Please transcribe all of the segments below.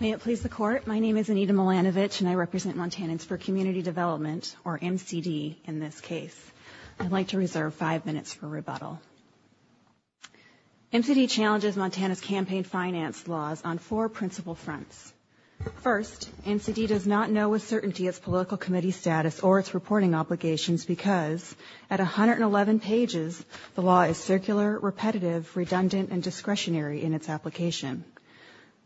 May it please the Court, my name is Anita Milanovic and I represent Montanans for Community Development, or MCD in this case. I'd like to reserve five minutes for rebuttal. MCD challenges Montana's campaign finance laws on four principal fronts. First, MCD does not know with certainty its political committee status or its reporting obligations because at 111 pages, the law is circular, repetitive, redundant, and discretionary in its application.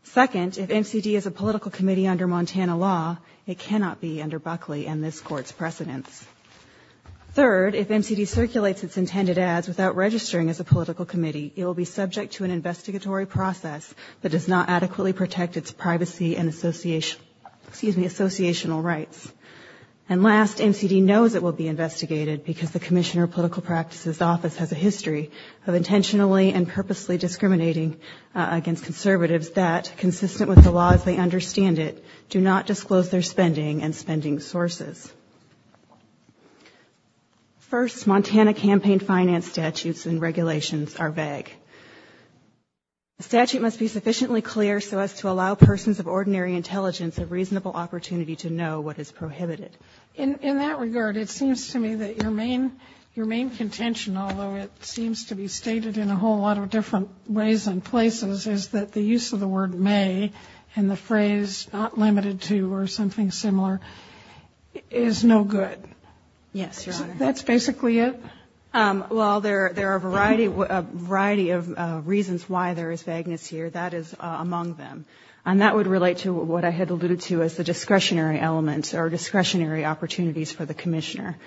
Second, if MCD is a political committee under Montana law, it cannot be under Buckley and this Court's precedence. Third, if MCD circulates its intended ads without registering as a political committee, it will be subject to an investigatory process that does not adequately protect its privacy and association, excuse me, associational rights. And last, MCD knows it will be investigated because the Commissioner of Political Practices Office has a history of intentionally and purposely discriminating against conservatives that, consistent with the law as they understand it, do not disclose their spending and spending sources. First, Montana campaign finance statutes and regulations are vague. A statute must be sufficiently clear so as to allow persons of ordinary intelligence a reasonable opportunity to know what is prohibited. In that regard, it seems to me that your main contention, although it seems to be stated in a whole lot of different ways and places, is that the use of the word may and the phrase not limited to or something similar is no good. Yes, Your Honor. That's basically it? Well, there are a variety of reasons why there is vagueness here. That is among them. And that would relate to what I had alluded to as the discretionary elements or discretionary opportunities for the Commissioner.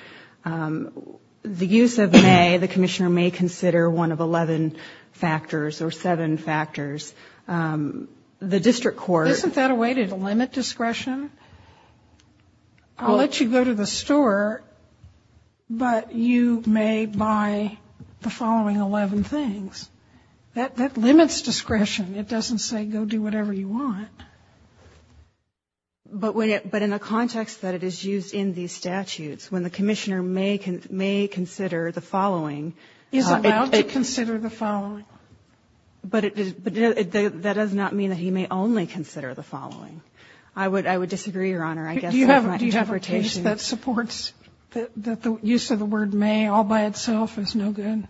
The use of may, the Commissioner may consider one of 11 factors or seven factors. The district court Isn't that a way to limit discretion? I'll let you go to the store, but you may buy the thing you want. But in the context that it is used in these statutes, when the Commissioner may consider the following He's allowed to consider the following. But that does not mean that he may only consider the following. I would disagree, Your Honor. I guess that's my interpretation. Do you have a case that supports that the use of the word may all by itself is no good?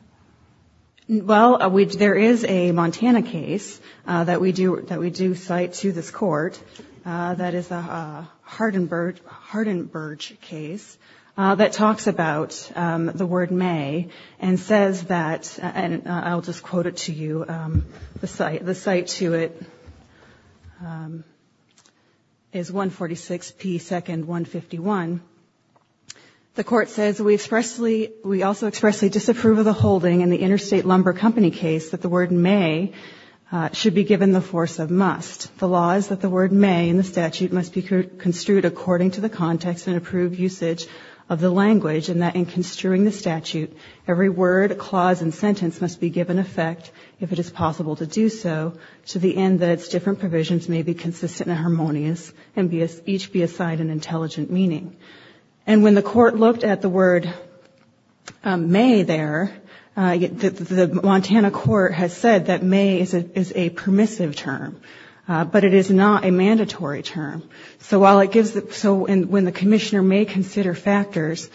Well, there is a Montana case that we do cite to this court. That is a Hardenburg case that talks about the word may and says that, and I'll just quote it to you, the cite to it is 146P second 151. The court says we expressly, we also expressly disapprove of the whole holding in the Interstate Lumber Company case that the word may should be given the force of must. The law is that the word may in the statute must be construed according to the context and approved usage of the language and that in construing the statute, every word, clause and sentence must be given effect, if it is possible to do so, to the end that its different provisions may be consistent and harmonious and each be assigned an intelligent meaning. And when the court looked at the word may there, the Montana court has said that may is a permissive term, but it is not a mandatory term. So while it gives, so when the commissioner may consider factors,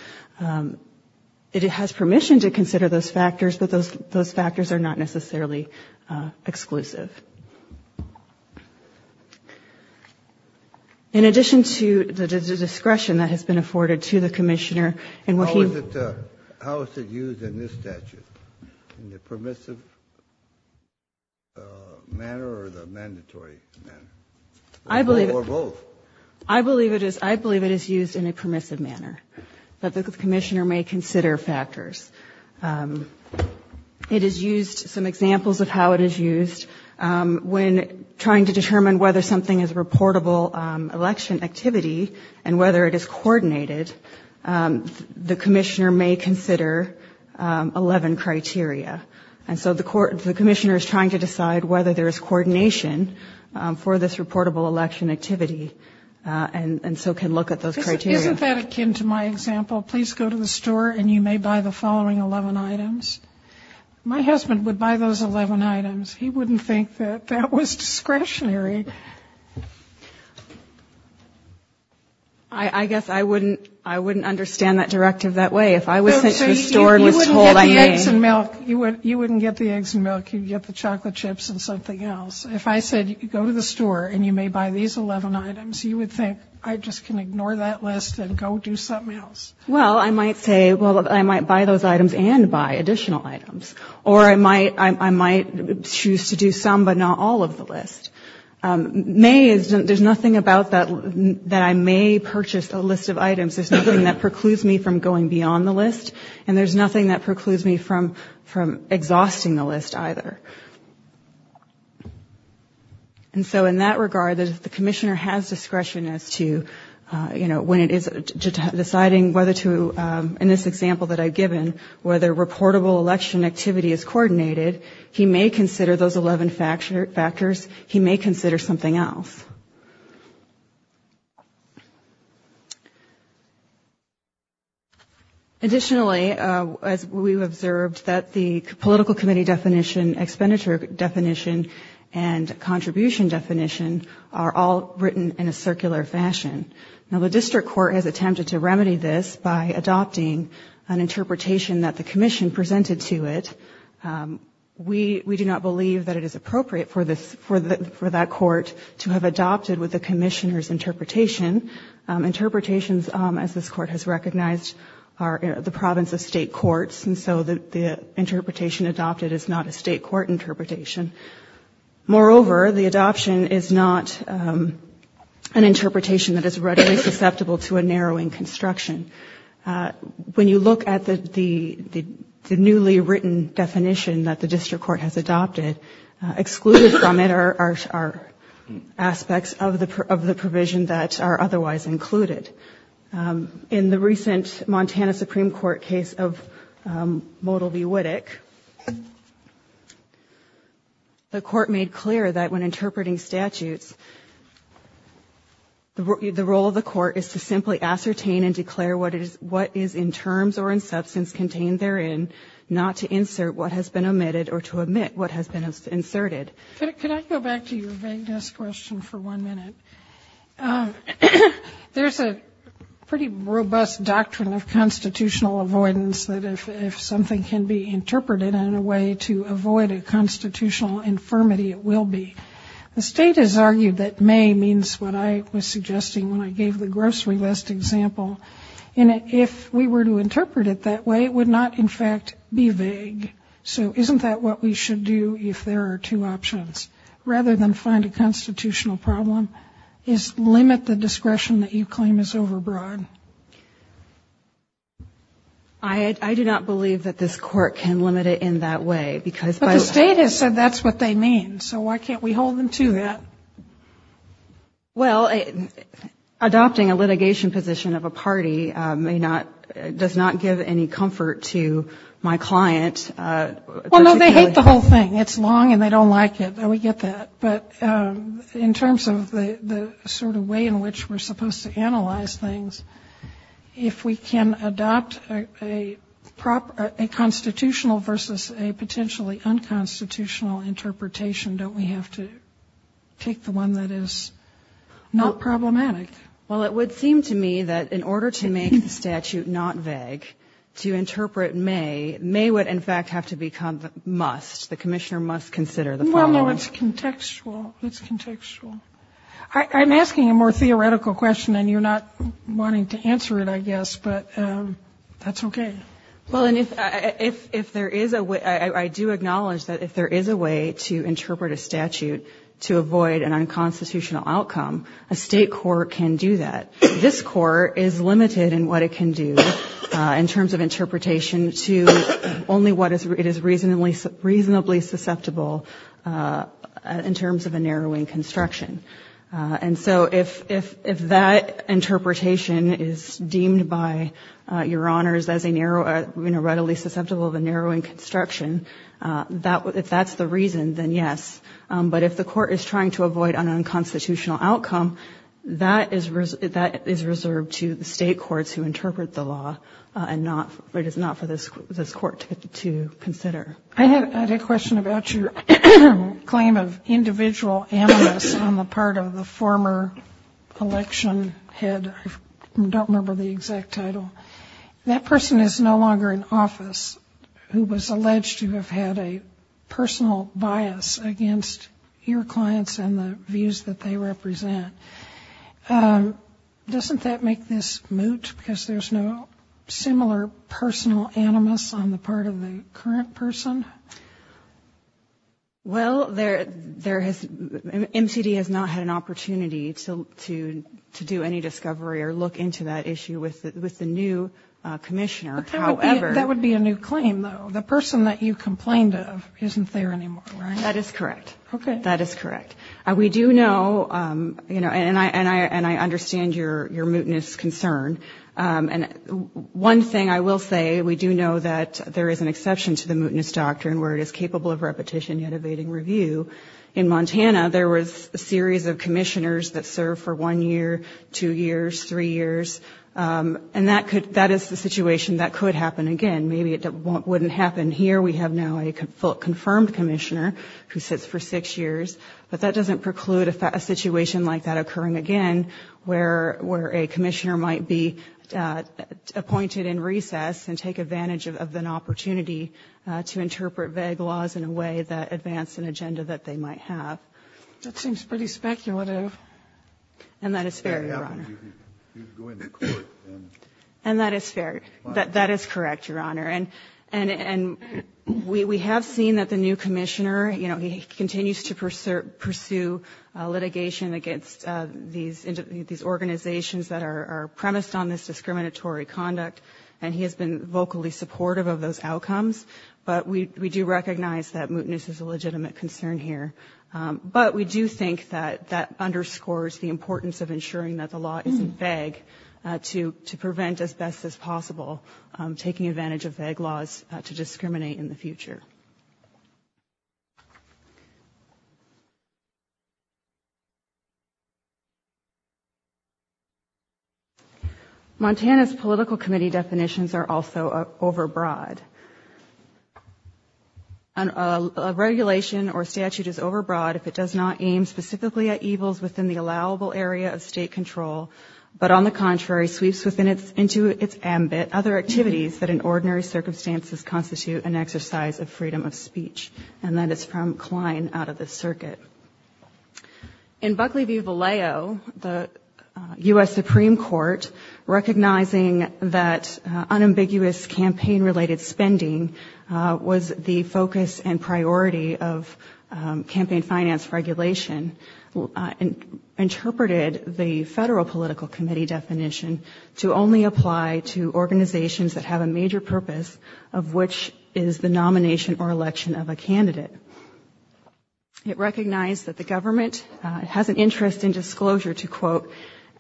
it has permission to consider those factors, but those factors are not necessarily exclusive. In addition to the discretion that has been afforded to the commissioner, and what he How is it used in this statute? In the permissive manner or the mandatory manner? Or both? I believe it is used in a permissive manner, but the commissioner may consider factors. It is used, some examples of how it is used, when trying to determine whether something is a reportable election activity and whether it is coordinated, the commissioner may consider 11 criteria. And so the commissioner is trying to decide whether there is coordination for this reportable election activity and so can look at those criteria. Isn't that akin to my example, please go to the store and you may buy the following 11 items? My husband would buy those 11 items. He wouldn't think that that was discretionary. I guess I wouldn't understand that directive that way. If I was sent to the store and was told I may. You wouldn't get the eggs and milk. You would get the chocolate chips and something else. If I said go to the store and you may buy these 11 items, you would think I just can go to that list and go do something else. Well, I might say I might buy those items and buy additional items. Or I might choose to do some but not all of the list. There is nothing about that I may purchase a list of items. There is nothing that precludes me from going beyond the list and there is nothing that precludes me from exhausting the list either. And so in that regard, the commissioner has discretion as to, you know, when it is deciding whether to, in this example that I've given, whether reportable election activity is coordinated, he may consider those 11 factors, he may consider something else. Additionally, as we've observed, that the political committee definition explicitly and the expenditure definition and contribution definition are all written in a circular fashion. Now, the district court has attempted to remedy this by adopting an interpretation that the commission presented to it. We do not believe that it is appropriate for that court to have adopted with the commissioner's interpretation. Interpretations, as this court has recognized, are the province of state courts and so the interpretation adopted is not a state court interpretation. Moreover, the adoption is not an interpretation that is readily susceptible to a narrowing construction. When you look at the newly written definition that the district court has adopted, excluded from it are aspects of the provision that are otherwise included. In the recent Montana Supreme Court case of Model v. Woodick, the court made clear that when interpreting statutes, the role of the court is to simply ascertain and declare what is in terms or in substance contained therein, not to insert what has been omitted or to omit what has been inserted. Can I go back to your vague desk question for one minute? There's a pretty robust doctrine of constitutional avoidance that if something can be interpreted in a way to avoid a constitutional infirmity, it will be. The state has argued that may means what I was suggesting when I gave the grocery list example. And if we were to interpret it that way, it would not in fact be vague. So isn't that what we should do if there are two options? Rather than find a constitutional problem, is limit the discretion that you claim is overbroad. I do not believe that this court can limit it in that way because by the state has said that's what they mean. So why can't we hold them to that? Well, adopting a litigation position of a party may not, does not give any comfort to my client. Well, no, they hate the whole thing. It's long and they don't like it. And we get that. But in terms of the sort of way in which we're supposed to analyze things, if we can adopt a constitutional versus a potentially unconstitutional interpretation, don't we have to take the one that is not problematic? Well, it would seem to me that in order to make the statute not vague, to interpret may, may would in fact have to become must. The commissioner must consider the problem. Well, no, it's contextual. It's contextual. I'm asking a more theoretical question and you're not wanting to answer it, I guess, but that's okay. Well, and if there is a way, I do acknowledge that if there is a way to interpret a statute to avoid an unconstitutional outcome, a State court can do that. This Court is limited in what it can do in terms of interpretation to only what it is reasonably susceptible in terms of a narrowing construction. And so if that interpretation is deemed by Your Honors as a narrow, you know, readily susceptible of a narrowing construction, if that's the reason, then yes. But if the Court is trying to avoid an unconstitutional outcome, that is reserved to the State courts who interpret the law and not, it is not for this Court to consider. I had a question about your claim of individual animus on the part of the former election head. I don't remember the exact title. That person is no longer in office who was alleged to have had a personal bias against your clients and the views that they represent. Doesn't that make this moot because there's no similar personal animus on the part of the current person? Well, there has, MCD has not had an opportunity to do any discovery or look into that issue with the new commissioner. But that would be a new claim, though. The person that you complained of isn't there anymore, right? That is correct. That is correct. We do know, you know, and I understand your mootness concern. And one thing I will say, we do know that there is an exception to the mootness doctrine where it is capable of repetition yet evading review. In Montana, there was a series of commissioners that served for one year, two years, three years, and that is the situation that could happen again. Maybe it wouldn't happen here. We have now a confirmed commissioner who sits for six years. But that doesn't preclude a situation like that occurring again where a commissioner might be appointed in recess and take advantage of an opportunity to interpret vague laws in a way that advance an agenda that they might have. That seems pretty speculative. And that is fair, Your Honor. And that is fair. That is correct, Your Honor. And we have seen that the new commissioner, you know, he continues to pursue litigation against these organizations that are premised on this discriminatory conduct. And he has been vocally supportive of those outcomes. But we do recognize that mootness is a legitimate concern here. But we do think that that underscores the importance of ensuring that the law isn't vague to prevent, as best as possible, taking advantage of vague laws to discriminate in the future. Montana's political committee definitions are also overbroad. A regulation or statute is overbroad if it does not aim specifically at evils within the allowable area of state control, but, on the contrary, sweeps into its ambit other activities that in ordinary circumstances constitute an exercise of freedom of speech. And that is from Klein out of the circuit. In Buckley v. Vallejo, the U.S. Supreme Court, recognizing that unambiguous campaign-related speech, or spending, was the focus and priority of campaign finance regulation, interpreted the federal political committee definition to only apply to organizations that have a major purpose, of which is the nomination or election of a candidate. It recognized that the government has an interest in disclosure to, quote,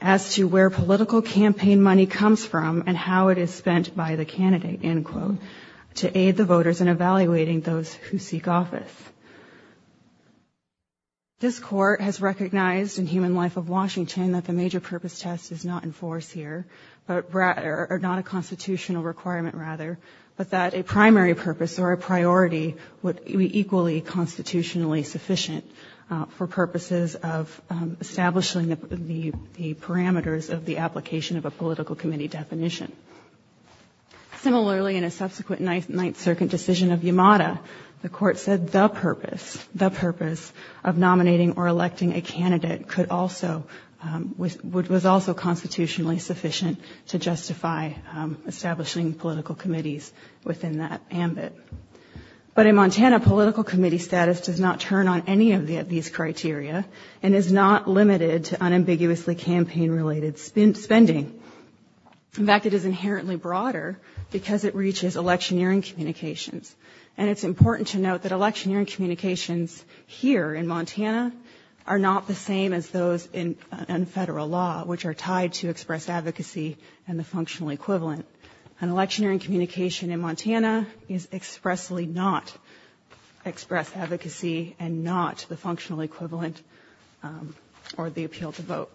as to where political campaign money comes from and how it is spent by the candidate, end quote, to aid the voters in evaluating those who seek office. This Court has recognized in Human Life of Washington that the major purpose test is not in force here, or not a constitutional requirement, rather, but that a primary purpose or a priority would be equally constitutionally sufficient for purposes of establishing the parameters of the application of a political committee definition. Similarly, in a subsequent Ninth Circuit decision of Yamada, the Court said the purpose, the purpose of nominating or electing a candidate could also, was also constitutionally sufficient to justify establishing political committees within that ambit. But in Montana, political committee status does not turn on any of these criteria, and is not limited to unambiguously campaign-related spending. In fact, it is inherently broader, because it reaches electioneering communications. And it's important to note that electioneering communications here in Montana are not the same as those in federal law, which are tied to express advocacy and the functional equivalent. And electioneering communication in Montana is expressly not express advocacy and not the functional equivalent or the appeal to vote.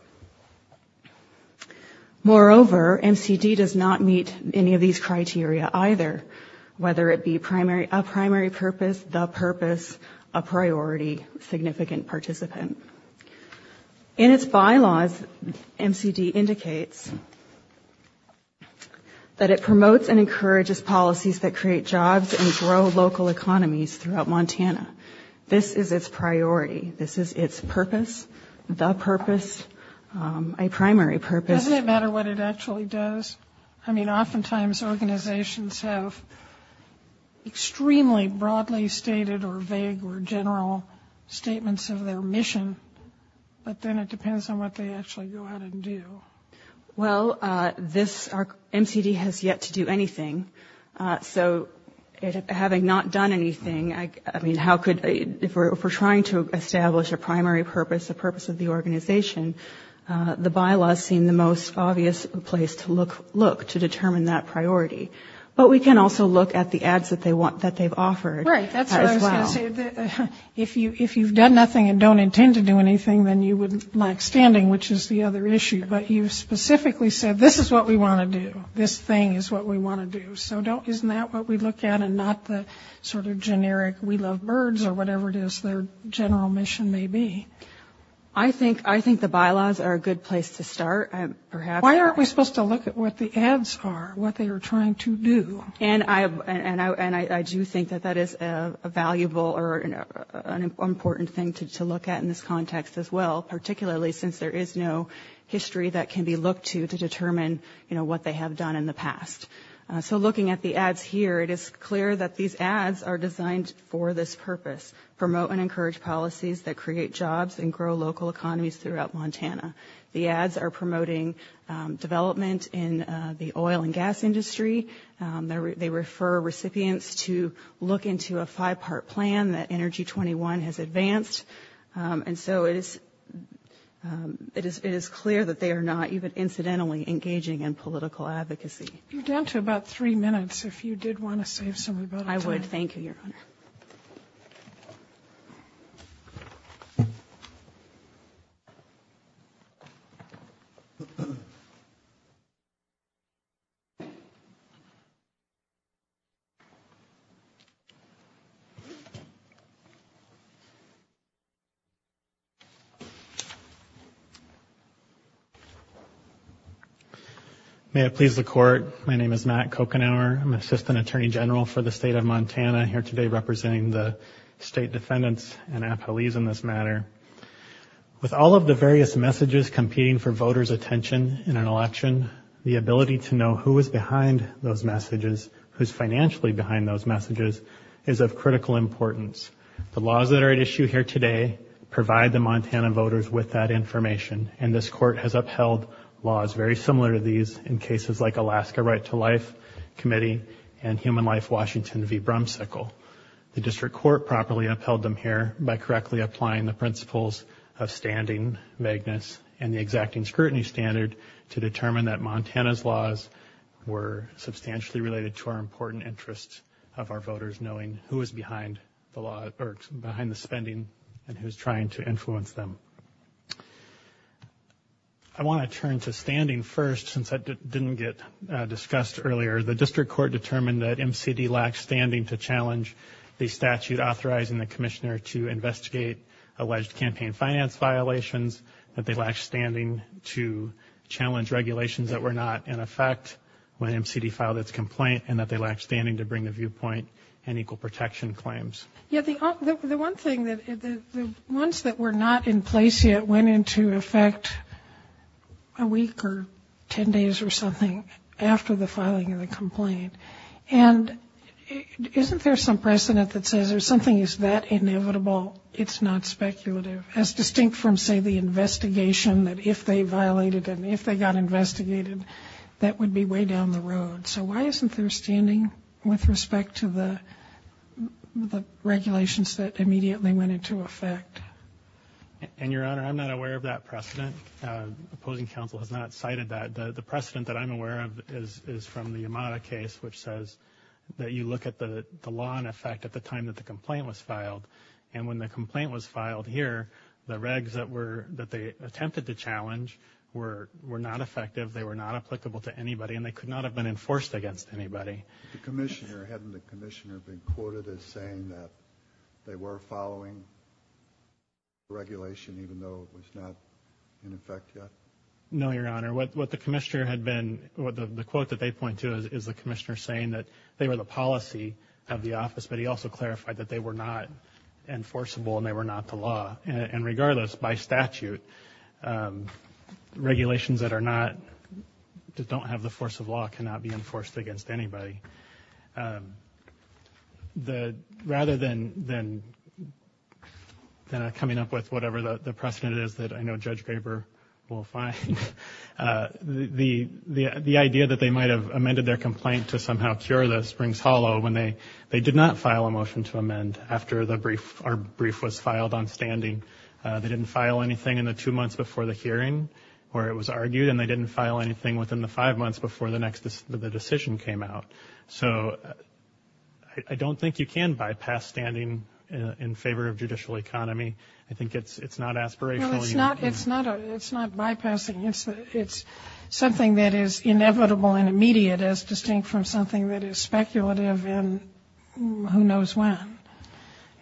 Moreover, MCD does not meet any of these criteria, either, whether it be a primary purpose, the purpose, a priority, significant participant. In its bylaws, MCD indicates that the primary purpose, that it promotes and encourages policies that create jobs and grow local economies throughout Montana. This is its priority. This is its purpose, the purpose, a primary purpose. Doesn't it matter what it actually does? I mean, oftentimes organizations have extremely broadly stated or vague or general statements of their mission, but then it depends on what they actually go out and do. Well, this, MCD has yet to do anything. So having not done anything, I mean, how could, if we're trying to establish a primary purpose, a purpose of the organization, the bylaws seem the most obvious place to look, to determine that priority. But we can also look at the ads that they've offered as well. Right. That's what I was going to say. If you've done nothing and don't intend to do anything, then you wouldn't like standing, which is the other issue. But you specifically said, this is what we want to do. This thing is what we want to do. So isn't that what we look at and not the sort of generic we love birds or whatever it is their general mission may be? I think the bylaws are a good place to start. Why aren't we supposed to look at what the ads are, what they are trying to do? And I do think that that is a valuable or an important thing to look at in this context as well, particularly since there is no history that can be looked to to determine what they have done in the past. So looking at the ads here, it is clear that these ads are designed for this purpose, promote and encourage policies that create jobs and grow local economies throughout Montana. The ads are promoting development in the oil and gas industry. They refer recipients to look into a five part plan that Energy 21 has advanced. And so it is it is it is clear that they are not even incidentally engaging in political advocacy. You're down to about three minutes. May it please the court. My name is Matt Coconauer. I'm assistant attorney general for the state of Montana here today, representing the state defendants and police in this matter. With all of the various messages competing for voters attention in an election, the ability to know who is behind those messages, who's financially behind those messages is of critical importance. The laws that are at issue here today provide the Montana voters with that information. And this court has upheld laws very similar to these in cases like Alaska Right to Life Committee and Human Life Washington v. Brumcickel. The district court properly upheld them here by correctly applying the principles of standing vagueness and the exacting scrutiny standard to determine that Montana's laws were substantially related to our important interests of our voters, knowing who is behind the law or behind the spending and who's trying to influence them. I want to turn to standing first, since that didn't get discussed earlier. The district court determined that M.C.D. lacked standing to challenge the statute authorizing the commissioner to investigate alleged campaign finance violations, that they lacked standing to challenge regulations that were not in effect when M.C.D. filed its complaint, and that they lacked standing to bring a viewpoint and equal protection claims. Yeah, the one thing that the ones that were not in place yet went into effect a week or 10 days or something after the filing of the complaint. And isn't there some precedent that says there's something that's inevitable, it's not speculative, as distinct from, say, the investigation that if they violated and if they got investigated, that would be way down the road. So why isn't there standing with respect to the regulations that immediately went into effect? And, Your Honor, I'm not aware of that precedent. Opposing counsel has not cited that. The precedent that I'm aware of is from the Yamada case, which says that you look at the law in effect at the time that the complaint was filed. And when the complaint was filed here, the regs that they attempted to challenge were not effective. They were not applicable to anybody, and they could not have been enforced against anybody. The commissioner, hadn't the commissioner been quoted as saying that they were following the regulation even though it was not in effect yet? No, Your Honor. What the commissioner had been, the quote that they point to is the commissioner saying that they were the policy of the office, but he also clarified that they were not enforceable and they were not the law. And regardless, by statute, regulations that are not, that don't have the force of law cannot be enforced against anybody. Rather than coming up with whatever the precedent is that I know Judge Graber will find, the idea that they might have amended their complaint to somehow cure the springs hollow when they did not file a motion to amend after the brief was filed on standing, they didn't file anything in the two months before the hearing where it was argued, and they didn't file anything within the five months before the next, the decision came out. So I don't think you can bypass standing in favor of judicial economy. I think it's not aspirational. No, it's not, it's not, it's not bypassing. It's something that is inevitable and immediate as distinct from something that is speculative and who knows when.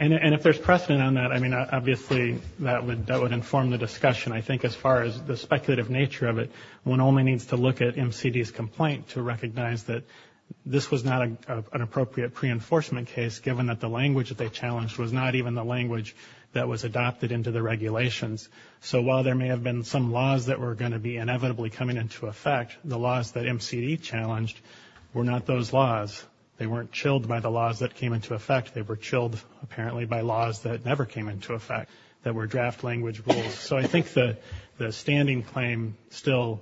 And if there's precedent on that, I mean, obviously that would, that would inform the discussion. I think as far as the speculative nature of it, one only needs to look at MCD's complaint to recognize that this was not an appropriate pre-enforcement case, given that the language that they challenged was not even the language that was adopted into the regulations. So while there may have been some laws that were going to be inevitably coming into effect, the laws that MCD challenged were not those laws. They weren't chilled by the laws that came into effect. They were chilled apparently by laws that never came into effect, that were draft language rules. So I think the standing claim still,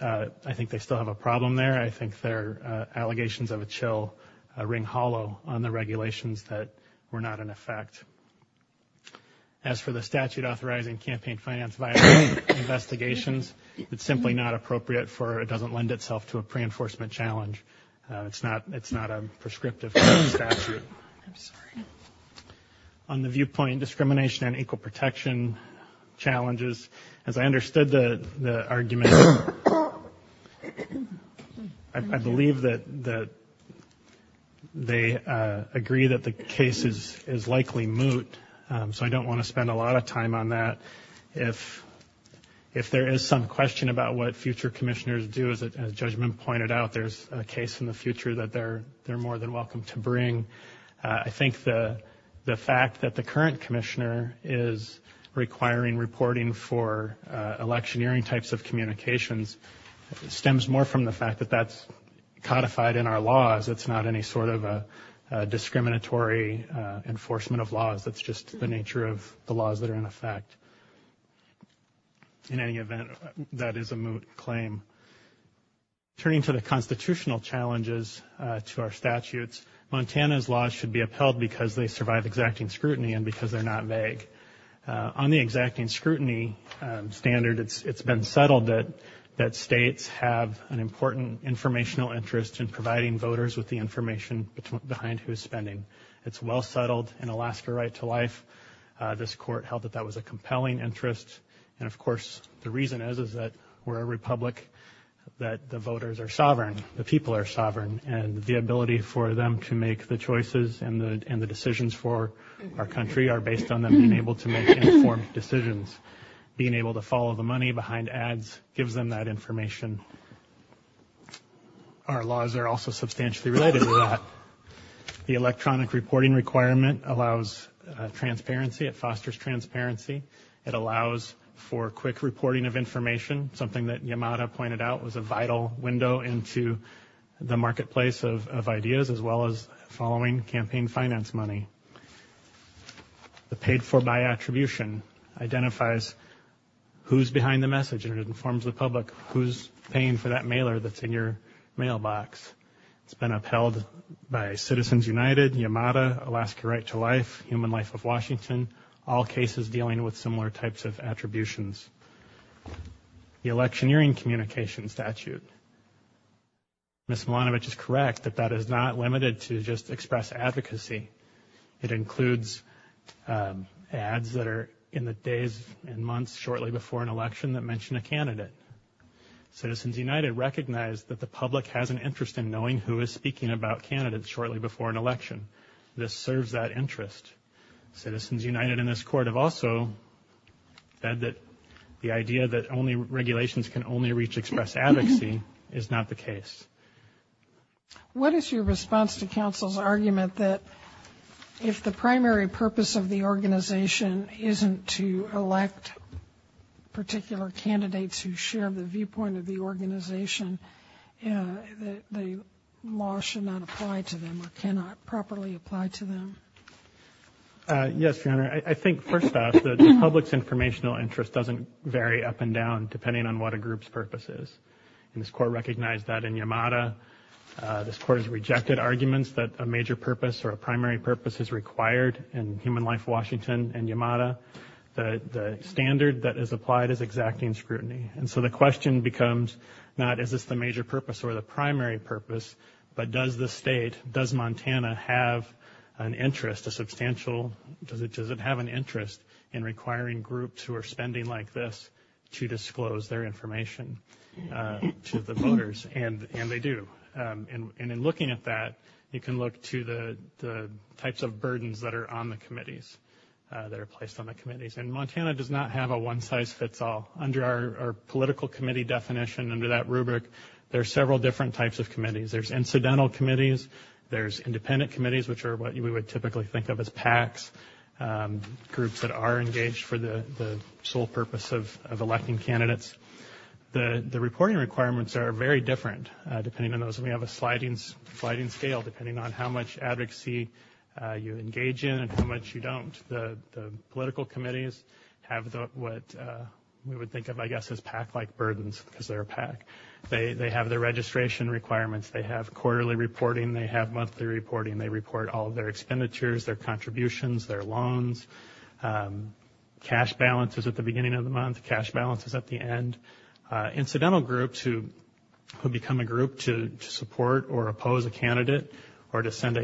I think they still have a problem there. I think their allegations of a chill ring hollow on the regulations that were not in effect. As for the statute authorizing campaign finance violations investigations, it's simply not appropriate for, it doesn't lend itself to a pre-enforcement challenge. It's not, it's not a prescriptive statute. On the viewpoint discrimination and equal protection challenges, as I understood the argument, I believe that they agree that the case is likely moot. So I don't want to spend a lot of time on that. If there is some question about what future commissioners do, as the judgment pointed out, there's a case in the future that they're more than welcome to bring. I think the fact that the current commissioner is requiring reporting for electioneering types of communications stems more from the fact that that's codified in our laws. It's not any sort of a discriminatory enforcement of laws. That's just the nature of the laws that are in effect. In any event, that is a moot claim. Turning to the constitutional challenges to our statutes, Montana's laws should be upheld because they survive exacting scrutiny and because they're not vague. On the exacting scrutiny standard, it's been settled that states have an important informational interest in providing information to voters. That's been put into life. This court held that that was a compelling interest. And of course, the reason is that we're a republic, that the voters are sovereign, the people are sovereign, and the ability for them to make the choices and the decisions for our country are based on them being able to make informed decisions. Being able to follow the money behind ads gives them that information. Our laws are also substantially related to that. The electronic reporting requirement allows transparency. It fosters transparency. It allows for quick reporting of information, something that Yamada pointed out was a vital window into the marketplace of ideas, as well as following campaign finance money. The paid for by attribution identifies who's behind the message and informs the public who's paying for that mailer that's in your hand. Citizens United, Yamada, Alaska Right to Life, Human Life of Washington, all cases dealing with similar types of attributions. The electioneering communications statute. Ms. Milanovic is correct that that is not limited to just express advocacy. It includes ads that are in the days and months shortly before an election that mention a candidate. Citizens United recognize that the public has an opportunity to express an opinion about a candidate shortly before an election. This serves that interest. Citizens United in this court have also said that the idea that only regulations can only reach express advocacy is not the case. What is your response to counsel's argument that if the primary purpose of the organization isn't to elect particular candidates who share the viewpoint of the organization, the law should not apply to them? Or cannot properly apply to them? Yes, Your Honor. I think, first off, the public's informational interest doesn't vary up and down depending on what a group's purpose is. And this court recognized that in Yamada. This court has rejected arguments that a major purpose or a primary purpose is required in Human Life Washington and Yamada. The standard that is applied is exacting scrutiny. And so the question becomes not is this the major purpose or the primary purpose, but does the state, does Montana have an interest, a substantial, does it have an interest in requiring groups who are spending like this to disclose their information to the voters? And they do. And in looking at that, you can look to the types of burdens that are on the committees, that are placed on the committees. And Montana does not have a one size fits all. Under our political committee definition, under that rubric, there are several different types of committees. There's incidental committees, there's independent committees, which are what we would typically think of as PACs, groups that are engaged for the sole purpose of electing candidates. The reporting requirements are very different depending on those. We have a sliding scale depending on how much advocacy you engage in and how much you don't. The political committees have what we would think of, I guess, as PAC-like burdens because they're a PAC. They have their registration requirements, they have quarterly reporting, they have monthly reporting, they report all of their expenditures, their contributions, their loans. Cash balance is at the beginning of the month, cash balance is at the end. Incidental groups who become a group to support or oppose a candidate or to send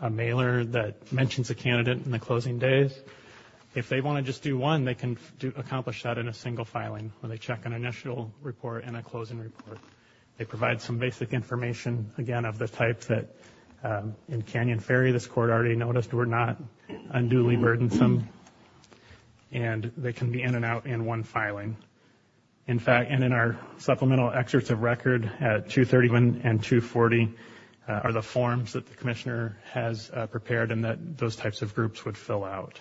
a mailer that mentions a candidate in the closing days, if they want to just do one, they can accomplish that in a single filing when they check an initial report and a closing report. They provide some basic information, again, of the type that in Canyon Ferry, this Court already noticed, were not unduly burdensome. And they can be in and out in one filing. In fact, and in our supplemental excerpts of record at 231 and 240 are the forms that the Commissioner has prepared and that those types of groups would fill out.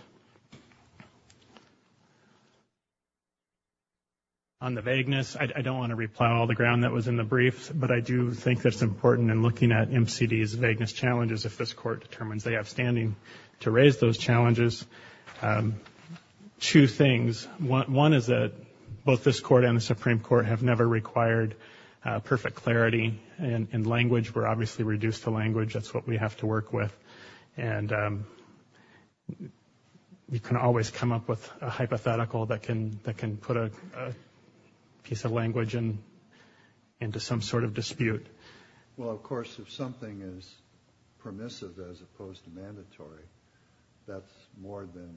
On the vagueness, I don't want to replow all the ground that was in the briefs, but I do think that's important in looking at MCD's vagueness challenges if this Court determines they have standing to raise those challenges. Two things. One is that both this Court and the Supreme Court have never required perfect clarity in language. We're obviously reduced to language. That's what we have to work with. And we can always come up with a hypothetical that can put a piece of language into some sort of dispute. Well, of course, if something is permissive as opposed to mandatory, that's more than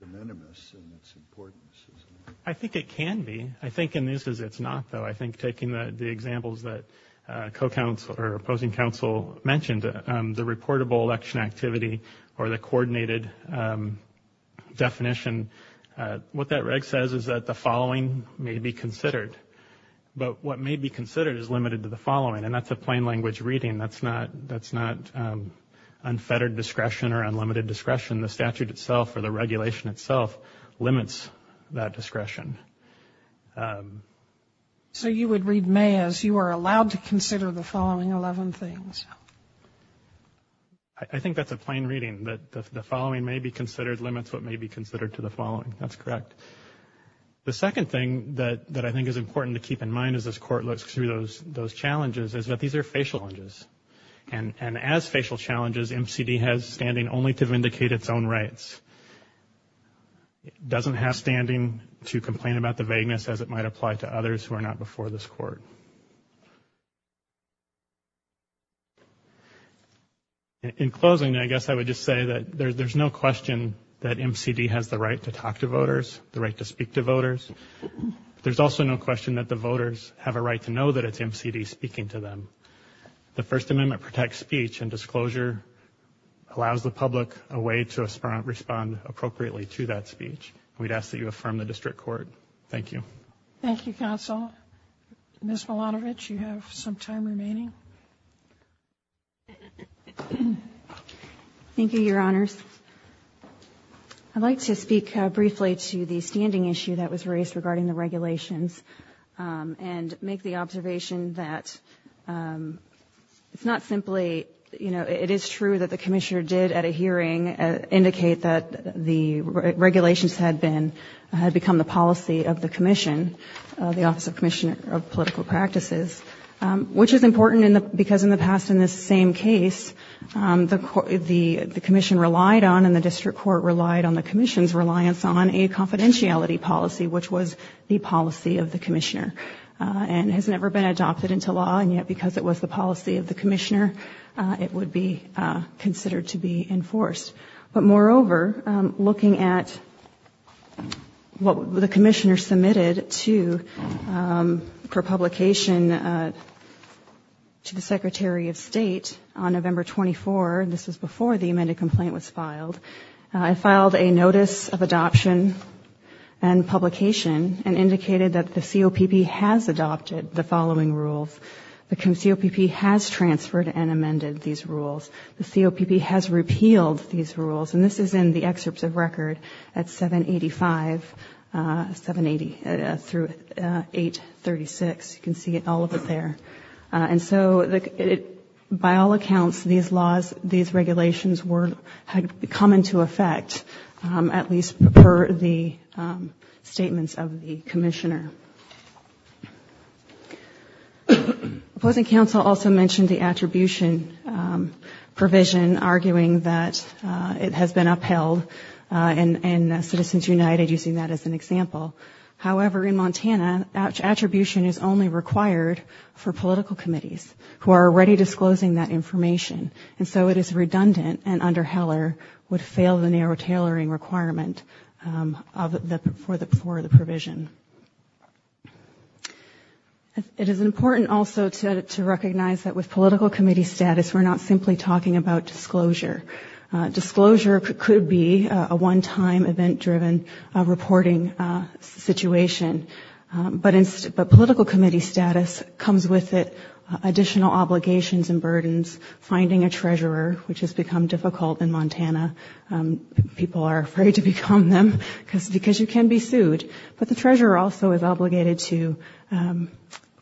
de minimis in its importance, isn't it? I think it can be. I think in these cases it's not, though. I think taking the examples that opposing counsel mentioned, the reportable action activity or the coordinated definition, what that reg says is that the following may be considered. But what may be considered is limited to the following. And that's a plain language reading. That's not unfettered discretion or unlimited discretion. The statute itself or the regulation itself limits that discretion. So you would read May as you are allowed to consider the following 11 things. I think that's a plain reading. That the following may be considered limits what may be considered to the following. That's correct. The second thing that I think is important to keep in mind as this Court looks through those challenges is that these are facial challenges. And as facial challenges, MCD has standing only to vindicate its own rights. It doesn't have standing to complain about the vagueness as it might apply to others who are not before this Court. In closing, I guess I would just say that there's no question that MCD has the right to talk to voters, the right to speak to voters. There's also no question that the voters have a right to know that it's MCD speaking to them. The First Amendment protects speech and disclosure allows the public a way to respond appropriately to that speech. We'd ask that you affirm the District Court. Thank you. Thank you, Counsel. Ms. Milanovic, you have some time remaining. Thank you, Your Honors. I'd like to speak briefly to the standing issue that was raised regarding the regulations and make the observation that it's not simply, you know, it is true that the Commissioner did at a hearing indicate that the regulations had been, had become the policy of the Commission, the Office of Commissioner of Political Practices, which is important because in the past in this same case, the Commission relied on and the District Court relied on the Commission's reliance on a confidentiality policy, which was the policy of the Commissioner and has never been adopted into law. And yet because it was the policy of the Commissioner, it would be considered to be enforced. But moreover, looking at what the Commissioner submitted to, for publication to the Secretary of State on November 24, this was before the amended complaint was filed, it filed a notice of adoption and publication and indicated that the COPP has adopted the following rules. The COPP has transferred and amended these rules. The COPP has repealed these rules. And this is in the excerpts of record at 785, 780 through 836. You can see all of it there. And so by all accounts, these laws, these regulations were, had come into effect, at least per the statements of the Commissioner. Opposing counsel also mentioned the attribution provision, arguing that the attribution provision was not in line with the statute. It has been upheld in Citizens United, using that as an example. However, in Montana, attribution is only required for political committees, who are already disclosing that information. And so it is redundant and under Heller would fail the narrow tailoring requirement for the provision. It is important also to recognize that with political committee status, we're not simply talking about disclosure. Disclosure could be a one-time event-driven reporting situation. But political committee status comes with it, additional obligations and burdens, finding a treasurer, which has become difficult in Montana. People are afraid to become them, because you can be sued. But the treasurer also is obligated to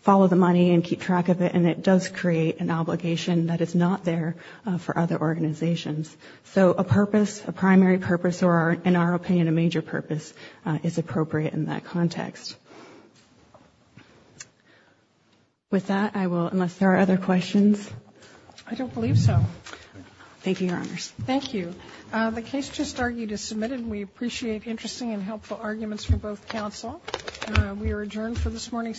follow the money and keep track of it, and it does create an obligation that is not there for other organizations. So a purpose, a primary purpose, or in our opinion, a major purpose, is appropriate in that context. With that, I will, unless there are other questions. I don't believe so. Thank you, Your Honors. Thank you. The case just argued is submitted. We appreciate interesting and helpful arguments from both counsel. We are adjourned for this morning's session.